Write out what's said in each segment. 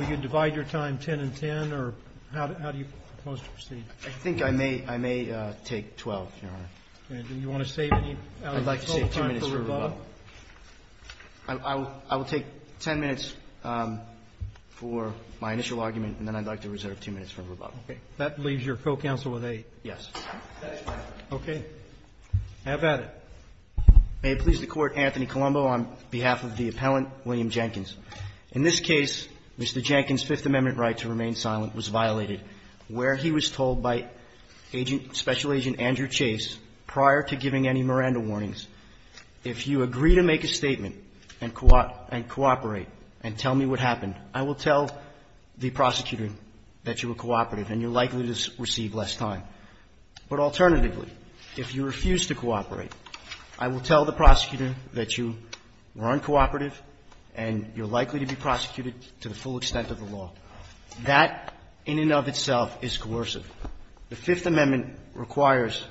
I think I may I may take 12 you want to say I would like to take 10 minutes for my initial argument and then I'd like to reserve two minutes for rebuttal that leaves your co-counsel with a yes okay have at it may please the court Anthony Colombo on behalf of the appellant William Jenkins in this case Mr. Jenkins Fifth Amendment right to remain silent was violated where he was told by agent special agent Andrew Chase prior to giving any Miranda warnings if you agree to make a statement and cooperate and cooperate and tell me what happened I will tell the prosecutor that you were cooperative and you're likely to receive less time but alternatively if you refuse to cooperate I will tell the prosecutor that you were uncooperative and you're likely to be prosecuted to the full extent of the law that in and of itself is coercive the Fifth Amendment requires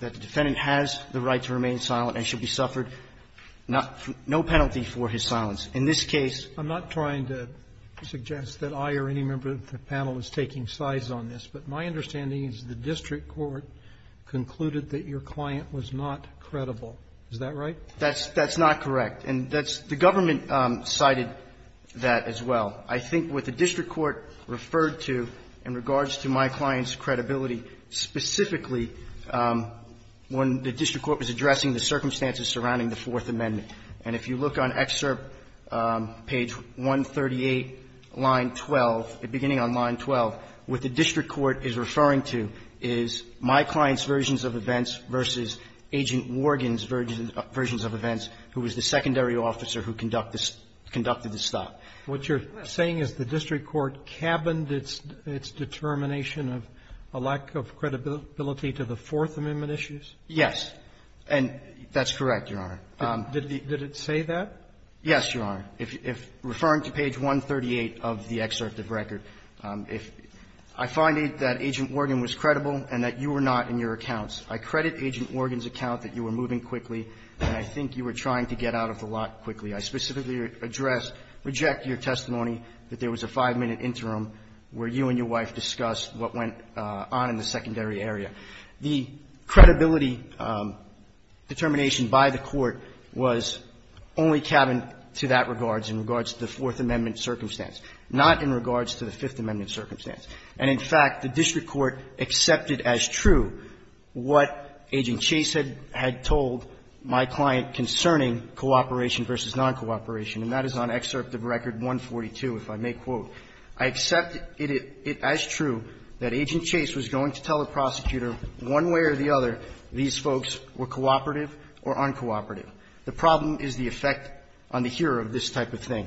that the defendant has the right to remain silent and should be suffered not no penalty for his silence in this case I'm not trying to suggest that I or any member of the panel is taking sides on this but my understanding is the district court concluded that your client was not credible is that right that's that's not correct and that's the government cited that as well I think with the district court referred to in regards to my clients credibility specifically when the district court was addressing the circumstances surrounding the Fourth Amendment and if you look on excerpt page 138 line 12 the beginning on line 12 with the district court is referring to is my client's versions of events versus agent Morgan's version versions of events who was the secondary officer who conduct this conducted the stop what you're saying is the district court cabined its its determination of a lack of credibility to the Fourth Amendment issues yes and that's correct your honor did it say that yes your honor if referring to page 138 of the excerpt of record if I find it that agent Morgan was credible and that you were not in your accounts I credit agent Morgan's account that you were moving quickly and I think you were trying to get out of the lot quickly I specifically address reject your testimony that there was a five minute interim where you and your wife discussed what went on in the secondary area the credibility determination by the court was only cabin to that regards in regards to the Fourth Amendment circumstance not in regards to the Fifth Amendment circumstance and in fact the district court accepted as true what agent Chase had had told my client concerning cooperation versus non-cooperation and that is on excerpt of record 142 if I may quote I accept it as true that agent Chase was going to tell the prosecutor one way or the other these folks were cooperative or uncooperative the problem is the effect on the hearer of this type of thing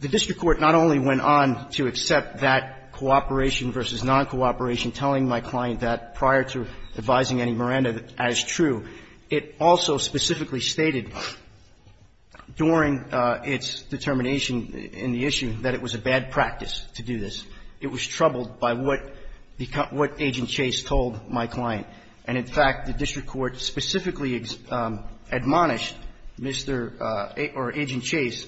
the district court not only went on to accept that cooperation versus non-cooperation telling my client that prior to advising any Miranda that as true it also specifically stated during its determination in the issue that it was a bad practice to do this it was troubled by what what agent Chase told my client and in fact the district court specifically admonished Mr. or agent Chase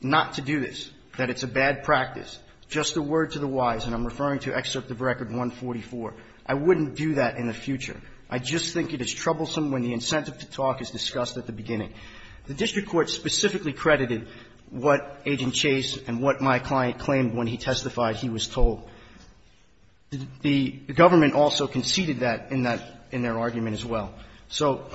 not to do this that it's a bad practice just a word to the wise and I'm referring to excerpt of record 144 I wouldn't do that in the future I just think it is troublesome when the incentive to talk is discussed at the beginning the district court specifically credited what agent Chase and what my client claimed when he testified he was told the government also conceded that in that in their argument as well so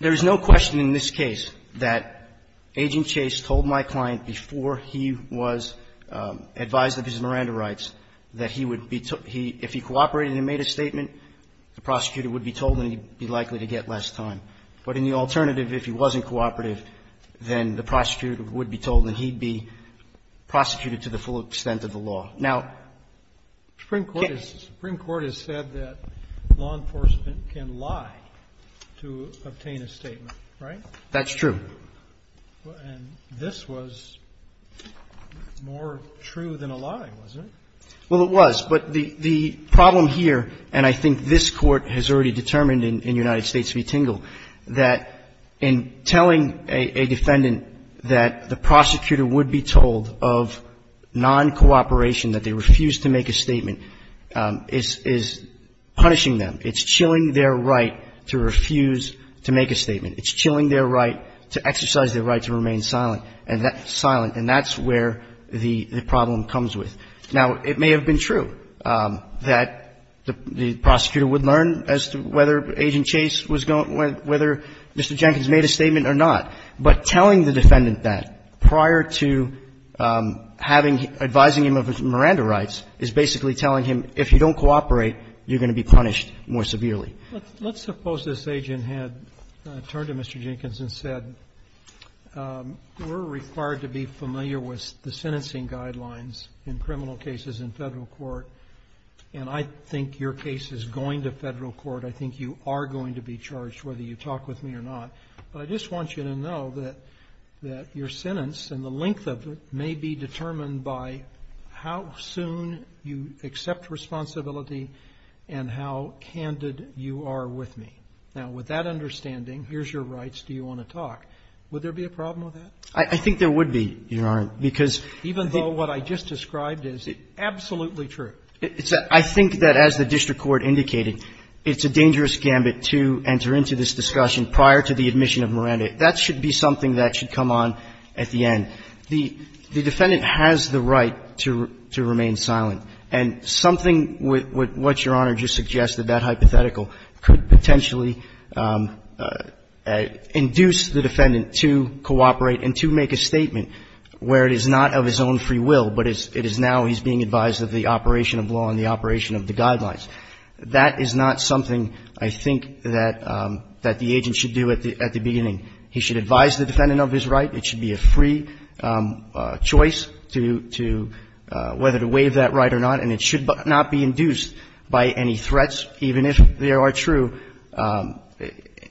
there is no question in this case that agent Chase told my client before he was advised of his Miranda rights that he would be took he if he cooperated and made a statement the prosecutor would be told and he'd be likely to get less time but in the alternative if he wasn't cooperative then the prosecutor would be told and he'd be prosecuted to the full extent of the law now Supreme Court has said that law enforcement can lie to obtain a statement right? That's true. And this was more true than a lie wasn't it? Well it was but the the problem here and I think this court has already determined in United States v. Tingle that in telling a defendant that the prosecutor would be told of non-cooperation that they refuse to make a statement is punishing them it's chilling their right to refuse to make a statement it's chilling their right to exercise their right to remain silent and that's where the problem comes with now it may have been true that the prosecutor would learn as to whether agent Chase was going to whether Mr. Jenkins made a statement or not but telling the defendant that prior to having advising him of his Miranda rights is basically telling him if you don't cooperate you're going to be punished more severely. Let's suppose this agent had turned to Mr. Jenkins and said we're required to be familiar with the sentencing guidelines in criminal cases in Federal court and I think your case is going to Federal court I think you are going to be charged whether you talk with me or not but I just want you to know that that your sentence and the length of it may be determined by how soon you accept responsibility and how candid you are with me now with that understanding here's your rights do you want to talk would there be a problem with that? I think there would be your honor because even though what I just described is absolutely true it's that I think that as the district court indicated it's a dangerous gambit to enter into this discussion prior to the admission of Miranda that should be something that should come on at the end the defendant has the right to remain silent and something with what your honor just suggested that hypothetical where it is not of his own free will but it is now he's being advised of the operation of law and the operation of the guidelines that is not something I think that the agent should do at the beginning he should advise the defendant of his right it should be a free choice to whether to waive that right or not and it should not be induced by any threats even if they are true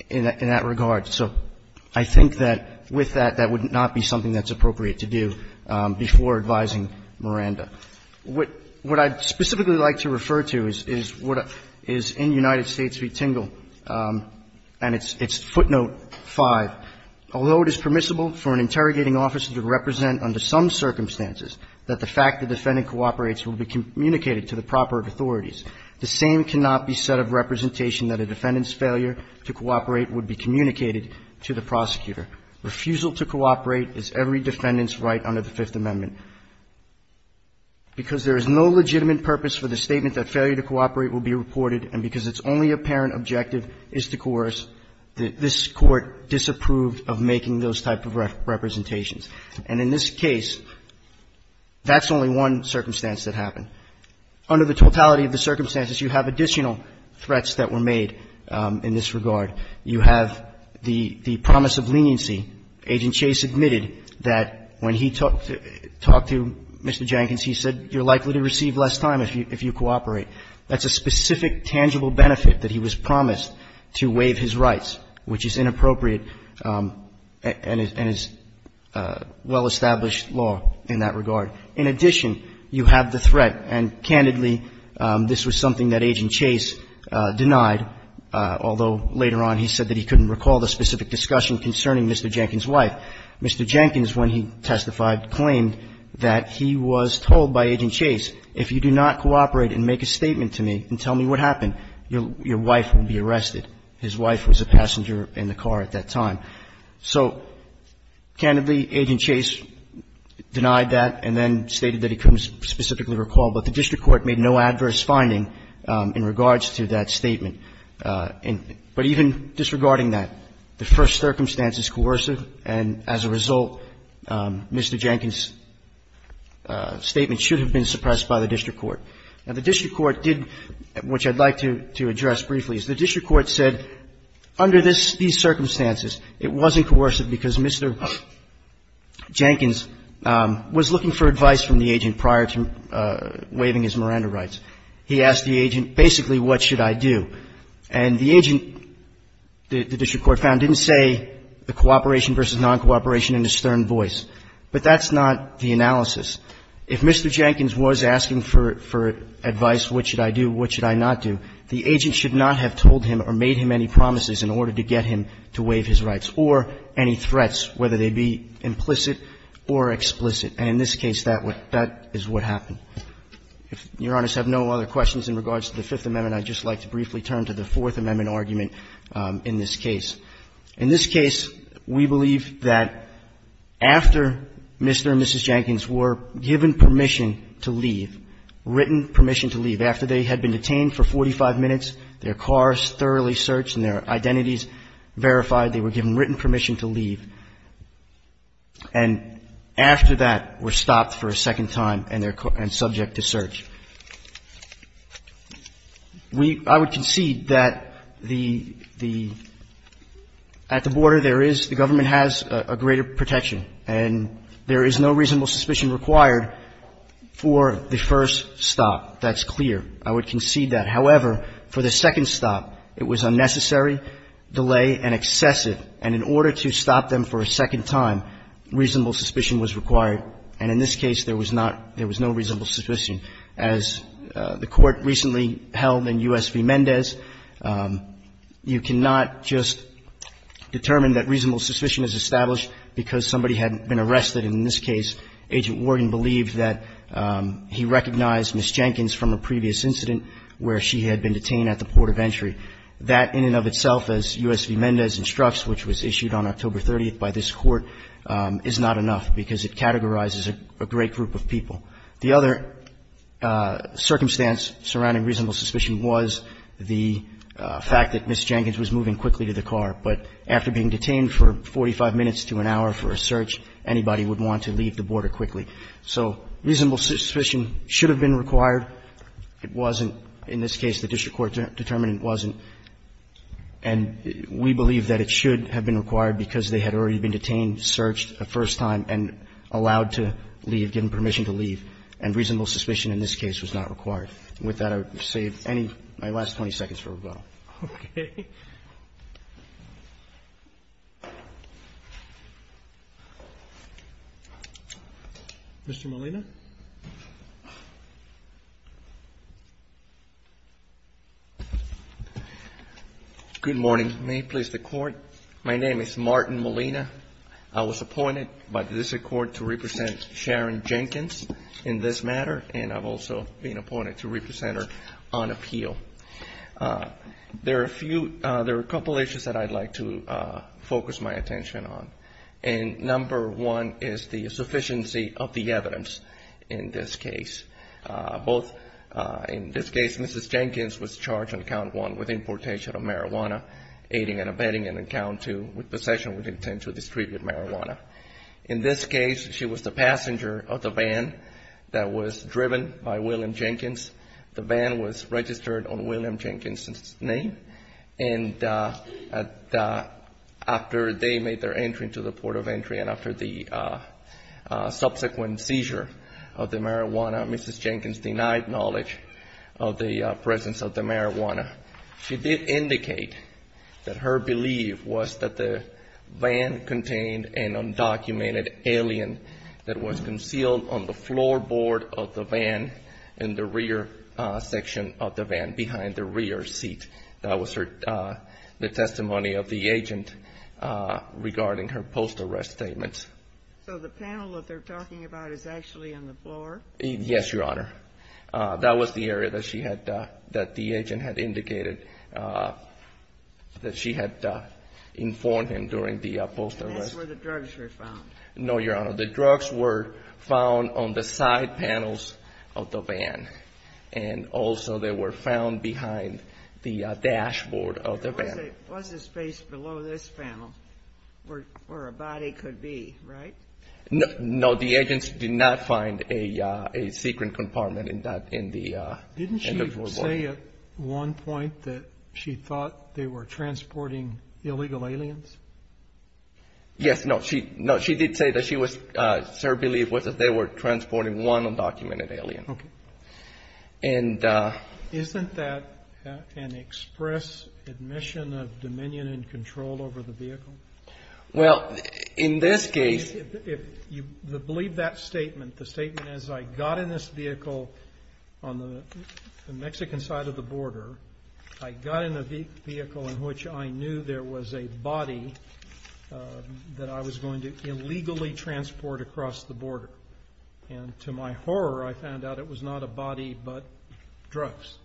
in that regard so I think that with that that would not be something that's appropriate to do before advising Miranda what I'd specifically like to refer to is what is in United States v. Tingle and it's footnote five although it is permissible for an interrogating officer to represent under some circumstances that the fact the defendant cooperates will be communicated to the proper authorities the same cannot be said of representation that a defendant's failure to cooperate would be communicated to the prosecutor refusal to cooperate is every defendant's right under the Fifth Amendment because there is no legitimate purpose for the statement that failure to cooperate will be reported and because it's only apparent objective is to coerce this court disapproved of making those type of representations and in this case that's only one circumstance that happened under the Fifth Amendment and under the totality of the circumstances you have additional threats that were made in this regard you have the promise of leniency agent Chase admitted that when he talked to Mr. Jenkins he said you're likely to receive less time if you cooperate that's a specific tangible benefit that he was promised to waive his rights which is inappropriate and is well established law in that regard in addition you have the threat and candidly this was something that agent Chase denied although later on he said that he couldn't recall the specific discussion concerning Mr. Jenkins wife Mr. Jenkins when he testified claimed that he was told by agent Chase if you do not cooperate and make a statement to me and tell me what happened your wife will be arrested his wife was a passenger in the car at that time so candidly agent Chase denied that and then stated that he couldn't specifically recall but the district court made no adverse finding in regards to that statement but even disregarding that the first circumstance is coercive and as a result Mr. Jenkins statement should have been suppressed by the district court and the district court did which I'd like to address briefly is the district court said under these circumstances it wasn't coercive because Mr. Jenkins was looking for advice from the agent prior to waiving his Miranda rights he asked the agent basically what should I do and the agent the district court found didn't say the cooperation versus non-cooperation in his stern voice but that's not the analysis if Mr. Jenkins was asking for advice what should I do what should I not do the agent should not have told him or made him any promises in order to get him to waive his rights or any threats whether they be implicit or explicit and in this case that what that is what happened if your honors have no other questions in regards to the Fifth Amendment I'd just like to briefly turn to the Fourth Amendment argument in this case in this case we believe that after Mr. and Mrs. Jenkins were given permission to leave written permission to leave after they had been detained for 45 minutes their cars thoroughly searched and their identities verified they were given written permission to leave and after that were stopped for a second time and they're and subject to search we I would concede that the the at the border there is the government has a greater protection and there is no reasonable suspicion required for the first stop. That's clear I would concede that however for the second stop it was unnecessary delay and excessive and in order to stop them for a second time reasonable suspicion was required and in this case there was not there was no reasonable suspicion as the court recently held in U.S. v. Mendez you cannot just determine that reasonable suspicion is established because somebody had been arrested in this case agent Morgan believed that he recognized Miss Jenkins from a previous incident where she had been detained at the port of entry that in and of itself as U.S. v. Mendez instructs which was issued on October 30th by this court is not enough because it categorizes a great group of people. The other circumstance surrounding reasonable suspicion was the fact that Miss Jenkins was moving quickly to the car but after being detained for 45 minutes to an hour for so reasonable suspicion should have been required it wasn't in this case the district court determined it wasn't and we believe that it should have been required because they had already been detained searched the first time and allowed to leave given permission to leave and reasonable suspicion in this case was not required. With that I would save any my last 20 seconds for rebuttal. Okay. Mr. Molina. Good morning. May it please the court. My name is Martin Molina. I was appointed by this court to represent Sharon Jenkins in this matter and I've also been appointed to represent her on appeal. There are a couple issues that I'd like to focus my attention on and number one is the sufficiency of the evidence in this case. Both in this case Mrs. Jenkins was charged on count one with importation of marijuana aiding and abetting and on count two with possession with intent to distribute marijuana. In this case she was the passenger of the van that was driven by William Jenkins. The van was registered on William Jenkins' name and after they made their entry into the port of entry and after the subsequent seizure of the marijuana Mrs. Jenkins denied knowledge of the presence of the marijuana. She did indicate that her belief was that the van contained an undocumented alien that was concealed on the floorboard of the van in the rear section of the van behind the rear seat. That was the testimony of the agent regarding her post arrest statements. So the panel that they're talking about is actually on the floor? Yes, Your Honor. That was the area that the agent had indicated that she had informed him during the post arrest. And that's where the drugs were found? No, Your Honor. The drugs were found on the side panels of the van and also they were found behind the dashboard of the van. Was there space below this panel where a body could be, right? No, the agents did not find a secret compartment in the floorboard. Didn't she say at one point that she thought they were transporting illegal aliens? Yes, no. She did say that her belief was that they were transporting one undocumented alien. Isn't that an express admission of dominion and control over the vehicle? Well, in this case... If you believe that statement, the statement is I got in this vehicle on the Mexican side of the border. I got in a vehicle in which I knew there was a body that I was going to illegally transport across the border. And to my horror, I found out it was not a body but drugs.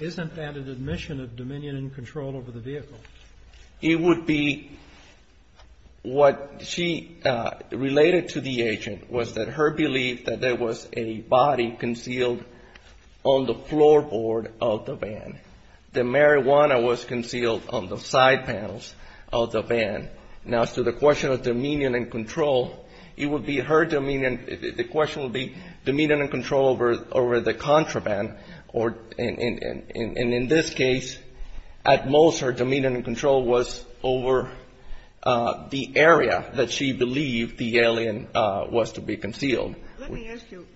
Isn't that an admission of dominion and control over the vehicle? It would be what she related to the agent was that her belief that there was a body concealed on the floorboard of the van. The marijuana was concealed on the side panels of the van. Now as to the question of dominion and control, it would be her dominion... The question would be dominion and control over the contraband. And in this case, at most her dominion and control was over the area that she believed the alien was to be concealed. Let me ask you.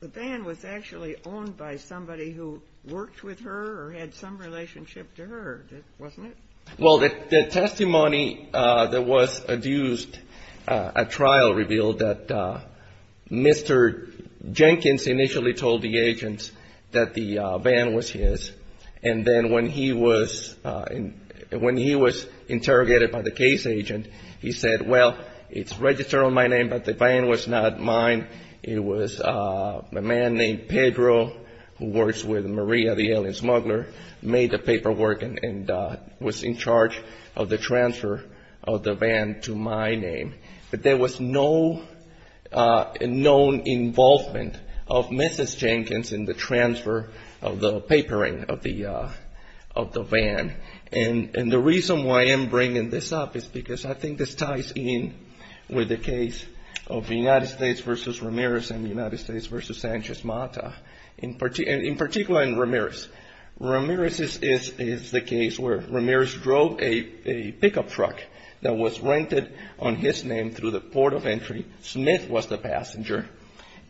The van was actually owned by somebody who worked with her or had some relationship to her, wasn't it? Well, the testimony that was adduced at trial revealed that Mr. Jenkins initially told the agent that the van was his. And then when he was interrogated by the case agent, he said, well, it's registered on my name, but the van was not mine. It was a man named Pedro who works with Maria, the alien smuggler, made the paperwork and was in charge of the transfer of the van to my name. But there was no known involvement of Mrs. Jenkins in the transfer of the papering of the van. And the reason why I am bringing this up is because I think this ties in with the case of the United States versus Ramirez and the United States versus Sanchez Mata, in particular in Ramirez. Ramirez is the case where Ramirez drove a pickup truck that was rented on his name through the port of entry. Smith was the passenger.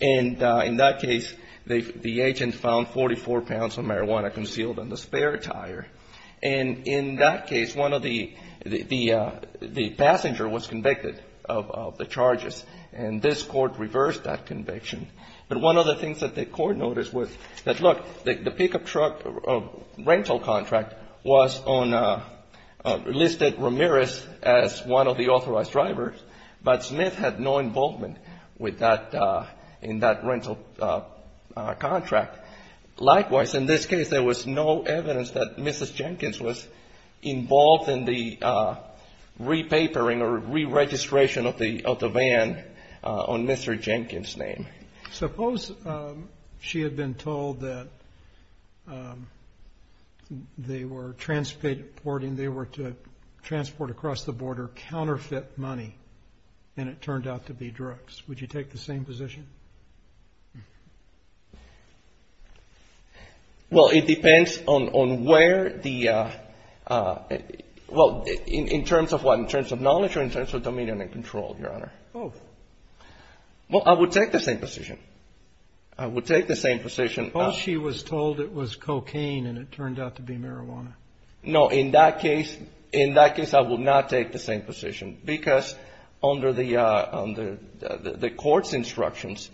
And in that case, the agent found 44 pounds of marijuana concealed in the spare tire. And in that case, the passenger was convicted of the charges. And this court reversed that conviction. But one of the things that the court noticed was that, look, the pickup truck rental contract was on a listed Ramirez as one of the authorized drivers. But Smith had no involvement with that in that rental contract. Likewise, in this case, there was no evidence that Mrs. Jenkins was involved in the rental contract on Mr. Jenkins' name. Suppose she had been told that they were transporting, they were to transport across the border counterfeit money, and it turned out to be drugs. Would you take the same position? Well, it depends on where the, well, in terms of what? In terms of dominion and control, Your Honor. Both. Well, I would take the same position. I would take the same position. Well, she was told it was cocaine, and it turned out to be marijuana. No. In that case, I would not take the same position. Because under the court's instructions,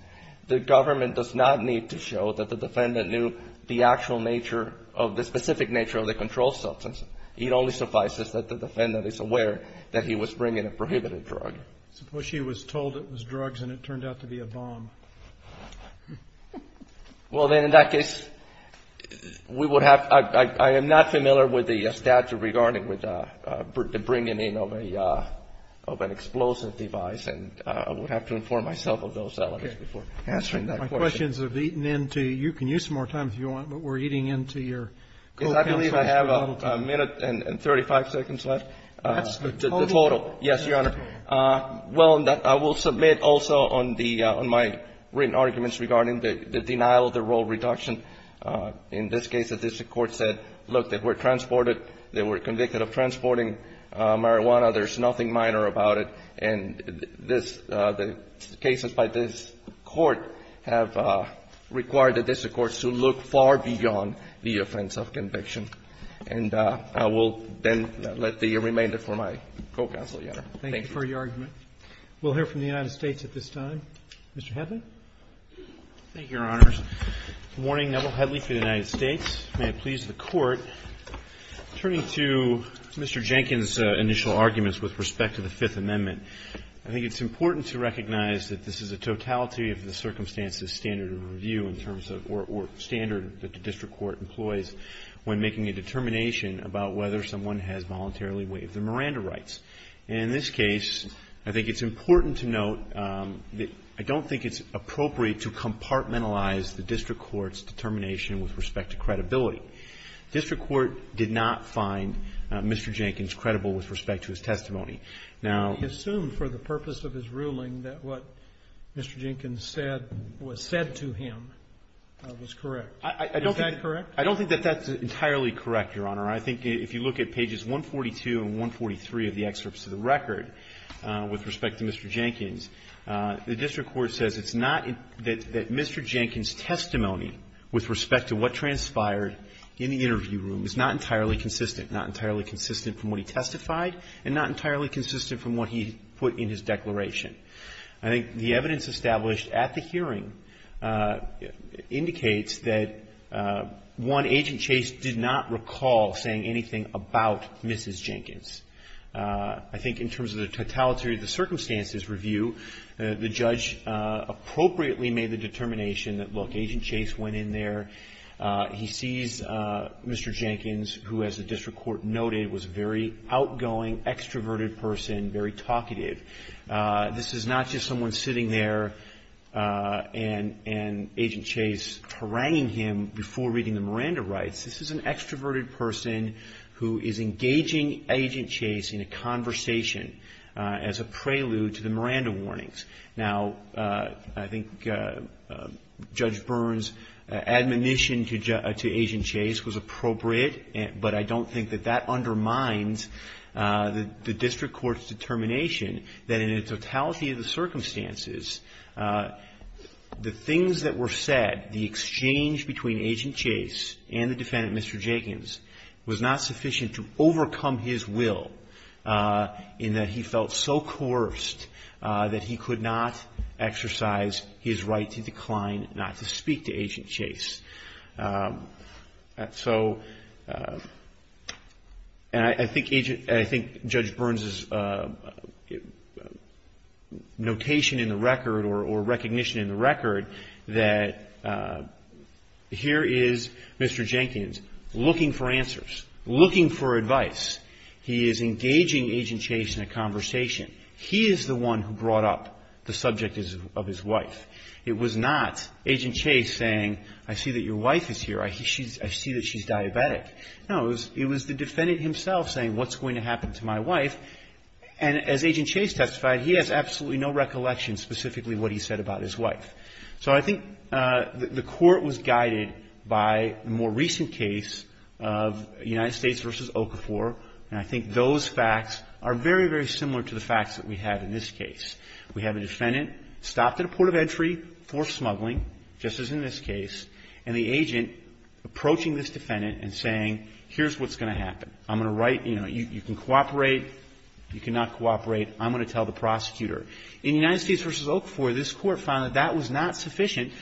the government does not need to show that the defendant knew the actual nature of the specific nature of the controlled substance. It only suffices that the defendant is aware that he was bringing a prohibited drug. Suppose she was told it was drugs, and it turned out to be a bomb. Well, then, in that case, we would have, I am not familiar with the statute regarding the bringing in of an explosive device. And I would have to inform myself of those elements before answering that question. My questions have eaten into, you can use some more time if you want, but we're eating into your co-counsel's I have a minute and 35 seconds left. The total. Yes, Your Honor. Well, I will submit also on my written arguments regarding the denial of the role reduction. In this case, the district court said, look, they were transported, they were convicted of transporting marijuana. There's nothing minor about it. And the cases by this Court have required the district courts to look far beyond the offense of conviction. And I will then let the remainder for my co-counsel, Your Honor. Thank you. Thank you for your argument. We'll hear from the United States at this time. Mr. Hedley. Thank you, Your Honors. Good morning. Neville Hedley for the United States. May it please the Court. Turning to Mr. Jenkins' initial arguments with respect to the Fifth Amendment, I think it's important to recognize that this is a totality of the circumstances or standard that the district court employs when making a determination about whether someone has voluntarily waived their Miranda rights. And in this case, I think it's important to note that I don't think it's appropriate to compartmentalize the district court's determination with respect to credibility. District court did not find Mr. Jenkins credible with respect to his testimony. Now ---- He assumed for the purpose of his ruling that what Mr. Jenkins said was said to him was correct. Is that correct? I don't think that that's entirely correct, Your Honor. I think if you look at pages 142 and 143 of the excerpts of the record with respect to Mr. Jenkins, the district court says it's not that Mr. Jenkins' testimony with respect to what transpired in the interview room is not entirely consistent, not entirely consistent from what he testified, and not entirely consistent from what he put in his declaration. I think the evidence established at the hearing indicates that, one, Agent Chase did not recall saying anything about Mrs. Jenkins. I think in terms of the totality of the circumstances review, the judge appropriately made the determination that, look, Agent Chase went in there, he sees Mr. Jenkins, who, as the district court noted, was a very outgoing, extroverted person, very talkative. This is not just someone sitting there and Agent Chase haranguing him before reading the Miranda rights. This is an extroverted person who is engaging Agent Chase in a conversation as a prelude to the Miranda warnings. Now, I think Judge Burns' admonition to Agent Chase was appropriate, but I don't think that that undermines the district court's determination that in the totality of the circumstances, the things that were said, the exchange between Agent Chase and the defendant, Mr. Jenkins, was not sufficient to overcome his will in that he felt so coerced that he could not exercise his right to decline not to speak to Agent Chase. And I think Judge Burns' notation in the record, or recognition in the record, that here is Mr. Jenkins looking for answers, looking for advice. He is engaging Agent Chase in a conversation. He is the one who brought up the subject of his wife. It was not Agent Chase saying, I see that your wife is here. I see that she's diabetic. No, it was the defendant himself saying, what's going to happen to my wife? And as Agent Chase testified, he has absolutely no recollection specifically what he said about his wife. So I think the court was guided by the more recent case of United States v. Okafor, and I think those facts are very, very similar to the facts that we have in this case. We have a defendant stopped at a port of entry for smuggling, just as in this case, and the agent approaching this defendant and saying, here's what's going to happen. I'm going to write, you know, you can cooperate, you cannot cooperate. I'm going to tell the prosecutor. In United States v. Okafor, this Court found that that was not sufficient,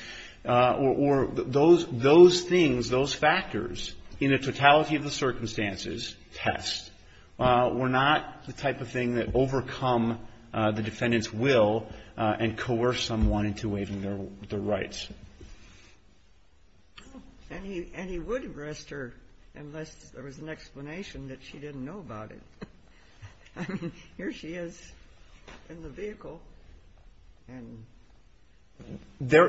or those things, those factors in the totality of the circumstances, test, were not the type of thing that overcome the defendant's will and coerce someone into waiving their rights. And he would arrest her unless there was an explanation that she didn't know about I mean, here she is in the vehicle. And there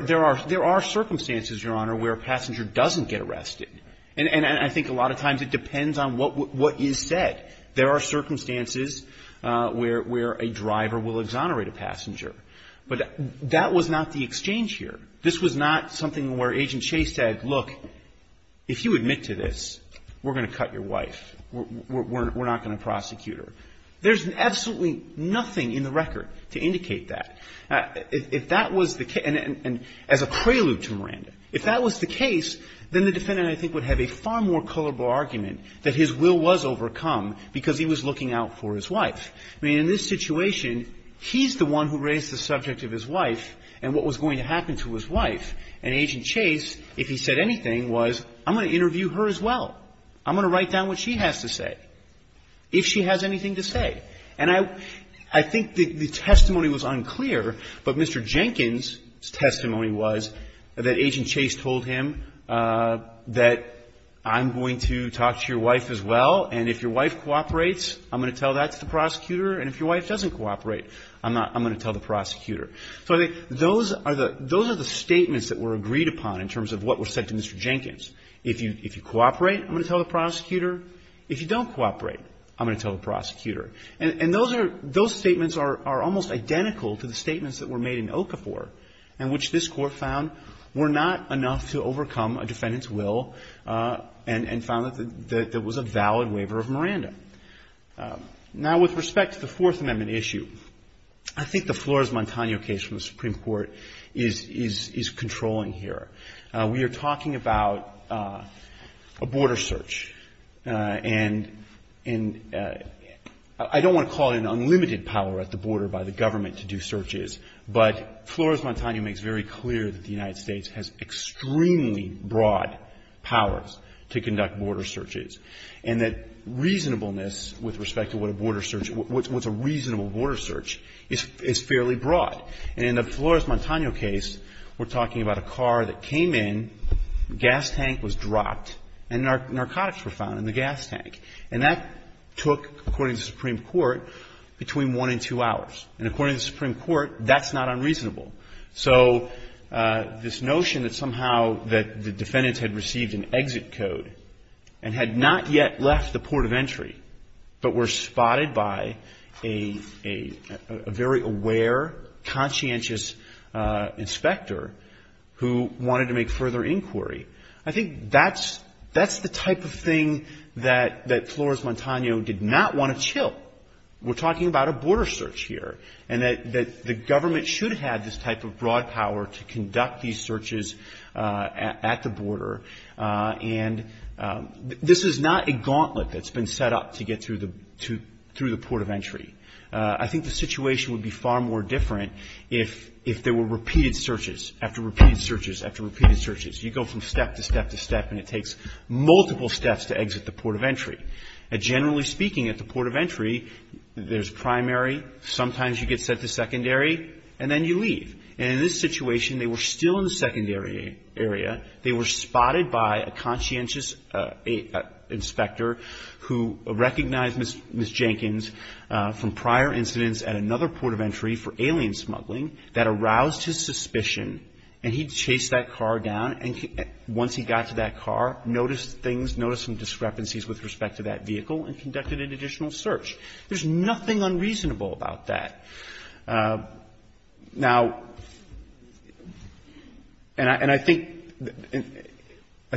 are circumstances, Your Honor, where a passenger doesn't get arrested. And I think a lot of times it depends on what is said. There are circumstances where a driver will exonerate a passenger. But that was not the exchange here. This was not something where Agent Chase said, look, if you admit to this, we're going to cut your wife. We're not going to prosecute her. There's absolutely nothing in the record to indicate that. If that was the case, and as a prelude to Miranda, if that was the case, then the defendant, I think, would have a far more colorable argument that his will was overcome because he was looking out for his wife. I mean, in this situation, he's the one who raised the subject of his wife and what was going to happen to his wife. And Agent Chase, if he said anything, was, I'm going to interview her as well. I'm going to write down what she has to say, if she has anything to say. And I think the testimony was unclear, but Mr. Jenkins' testimony was that Agent Chase told him that I'm going to talk to your wife as well, and if your wife cooperates, I'm going to tell that to the prosecutor, and if your wife doesn't cooperate, I'm going to tell the prosecutor. So I think those are the statements that were agreed upon in terms of what was said to Mr. Jenkins. If you cooperate, I'm going to tell the prosecutor. If you don't cooperate, I'm going to tell the prosecutor. And those statements are almost identical to the statements that were made in Okafor in which this Court found were not enough to overcome a defendant's will and found that there was a valid waiver of Miranda. Now, with respect to the Fourth Amendment issue, I think the Flores-Montano case from the Supreme Court is controlling here. We are talking about a border search. And I don't want to call it an unlimited power at the border by the government to do searches, but Flores-Montano makes very clear that the United States has extremely broad powers to conduct border searches, and that reasonableness with respect to what a border search, what's a reasonable border search is fairly broad. And in the Flores-Montano case, we're talking about a car that came in, gas tank was dropped, and narcotics were found in the gas tank. And that took, according to the Supreme Court, between one and two hours. And according to the Supreme Court, that's not unreasonable. So this notion that somehow that the defendant had received an exit code and had not yet left the port of entry, but were spotted by a very aware, conscientious inspector who wanted to make further inquiry, I think that's the type of thing that Flores-Montano did not want to chill. We're talking about a border search here, and that the government should have had this type of broad power to conduct these searches at the border. And this is not a gauntlet that's been set up to get through the port of entry. I think the situation would be far more different if there were repeated searches after repeated searches after repeated searches. You go from step to step to step, and it takes multiple steps to exit the port of entry. Generally speaking, at the port of entry, there's primary, sometimes you get set to secondary, and then you leave. And in this situation, they were still in the secondary area. They were spotted by a conscientious inspector who recognized Ms. Jenkins from prior incidents at another port of entry for alien smuggling that aroused his suspicion, and he chased that car down. And once he got to that car, noticed things, noticed some discrepancies with respect to that vehicle, and conducted an additional search. There's nothing unreasonable about that. Now, and I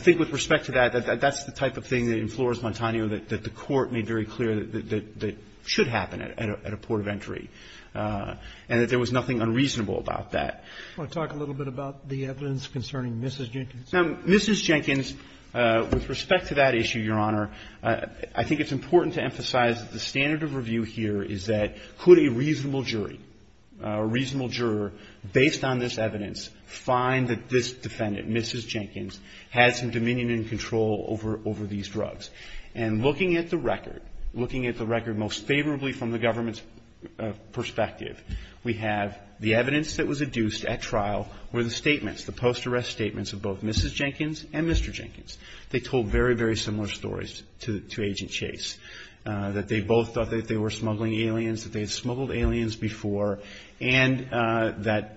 think with respect to that, that's the type of thing that inflores Montano that the Court made very clear that should happen at a port of entry, and that there was nothing unreasonable about that. I want to talk a little bit about the evidence concerning Mrs. Jenkins. Now, Mrs. Jenkins, with respect to that issue, Your Honor, I think it's important to emphasize that the standard of review here is that could a reasonable jury, a reasonable juror, based on this evidence, find that this defendant, Mrs. Jenkins, had some dominion and control over these drugs. And looking at the record, looking at the record most favorably from the government's perspective, we have the evidence that was adduced at trial were the statements, the post-arrest statements of both Mrs. Jenkins and Mr. Jenkins. They told very, very similar stories to Agent Chase, that they both thought that they were smuggling aliens, that they had smuggled aliens before, and that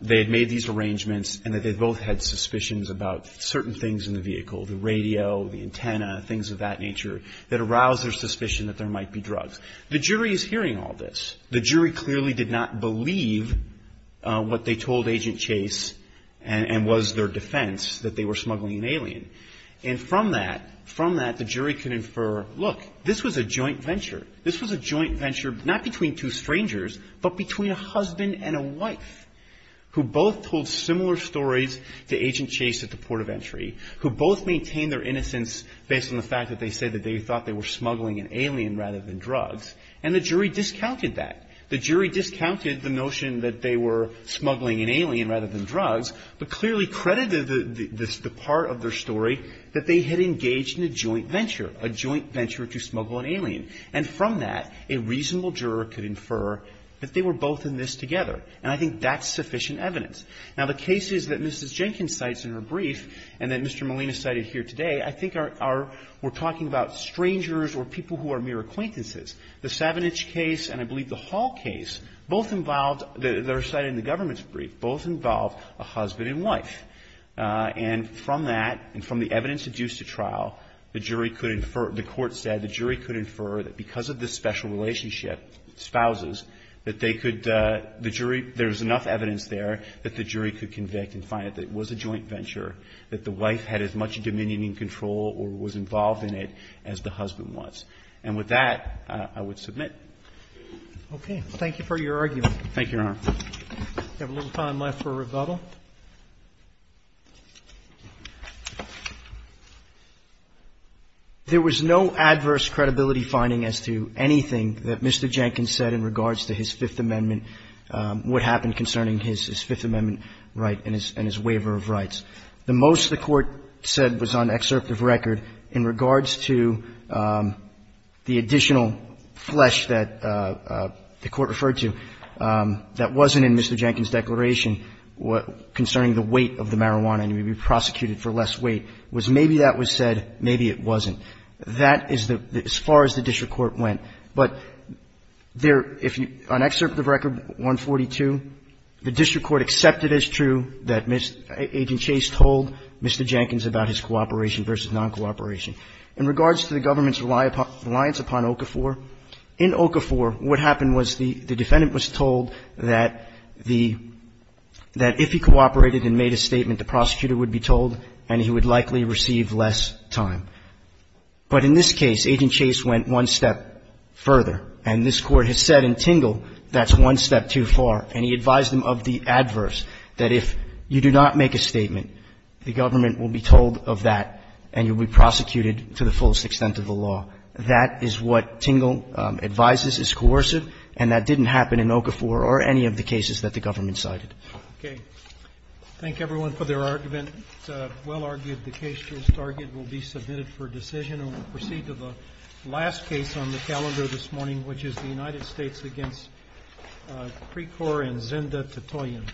they had made these arrangements, and that they both had suspicions about certain things in the vehicle, the radio, the antenna, things of that nature, that aroused their suspicion that there might be drugs. The jury is hearing all this. The jury clearly did not believe what they told Agent Chase and was their defense, that they were smuggling an alien. And from that, from that, the jury could infer, look, this was a joint venture. This was a joint venture not between two strangers, but between a husband and a wife, who both told similar stories to Agent Chase at the port of entry, who both maintained their innocence based on the fact that they said that they thought they were smuggling an alien rather than drugs. And the jury discounted that. The jury discounted the notion that they were smuggling an alien rather than drugs, but clearly credited the part of their story that they had engaged in a joint venture, a joint venture to smuggle an alien. And from that, a reasonable juror could infer that they were both in this together. And I think that's sufficient evidence. Now, the cases that Mrs. Jenkins cites in her brief and that Mr. Molina cited here today, I think are we're talking about strangers or people who are mere acquaintances. The Savage case and I believe the Hall case both involved, that are cited in the government's brief, both involved a husband and wife. And from that and from the evidence adduced at trial, the jury could infer, the court said the jury could infer that because of this special relationship, spouses, that they could, the jury, there's enough evidence there that the jury could convict and find that it was a joint venture, that the wife had as much dominion and control or was involved in it as the husband was. And with that, I would submit. Roberts. Thank you for your argument. Thank you, Your Honor. We have a little time left for rebuttal. There was no adverse credibility finding as to anything that Mr. Jenkins said in regards to his Fifth Amendment, what happened concerning his Fifth Amendment right and his waiver of rights. The most the Court said was on excerpt of record in regards to the additional flesh that the Court referred to that wasn't in Mr. Jenkins' declaration concerning the weight of the marijuana and he would be prosecuted for less weight was maybe that was said, maybe it wasn't. That is the, as far as the district court went. But there, if you, on excerpt of record 142, the district court accepted as true that Agent Chase told Mr. Jenkins about his cooperation versus non-cooperation. In regards to the government's reliance upon Okafor, in Okafor what happened was the defendant was told that the, that if he cooperated and made a statement, the prosecutor would be told and he would likely receive less time. But in this case, Agent Chase went one step further. And this Court has said in Tingle that's one step too far. And he advised him of the adverse, that if you do not make a statement, the government will be told of that and you'll be prosecuted to the fullest extent of the law. That is what Tingle advises is coercive, and that didn't happen in Okafor or any of the cases that the government cited. Roberts. Thank everyone for their argument. It's well-argued the case to this target will be submitted for decision. And we'll proceed to the last case on the calendar this morning, which is the United Arab Emirates.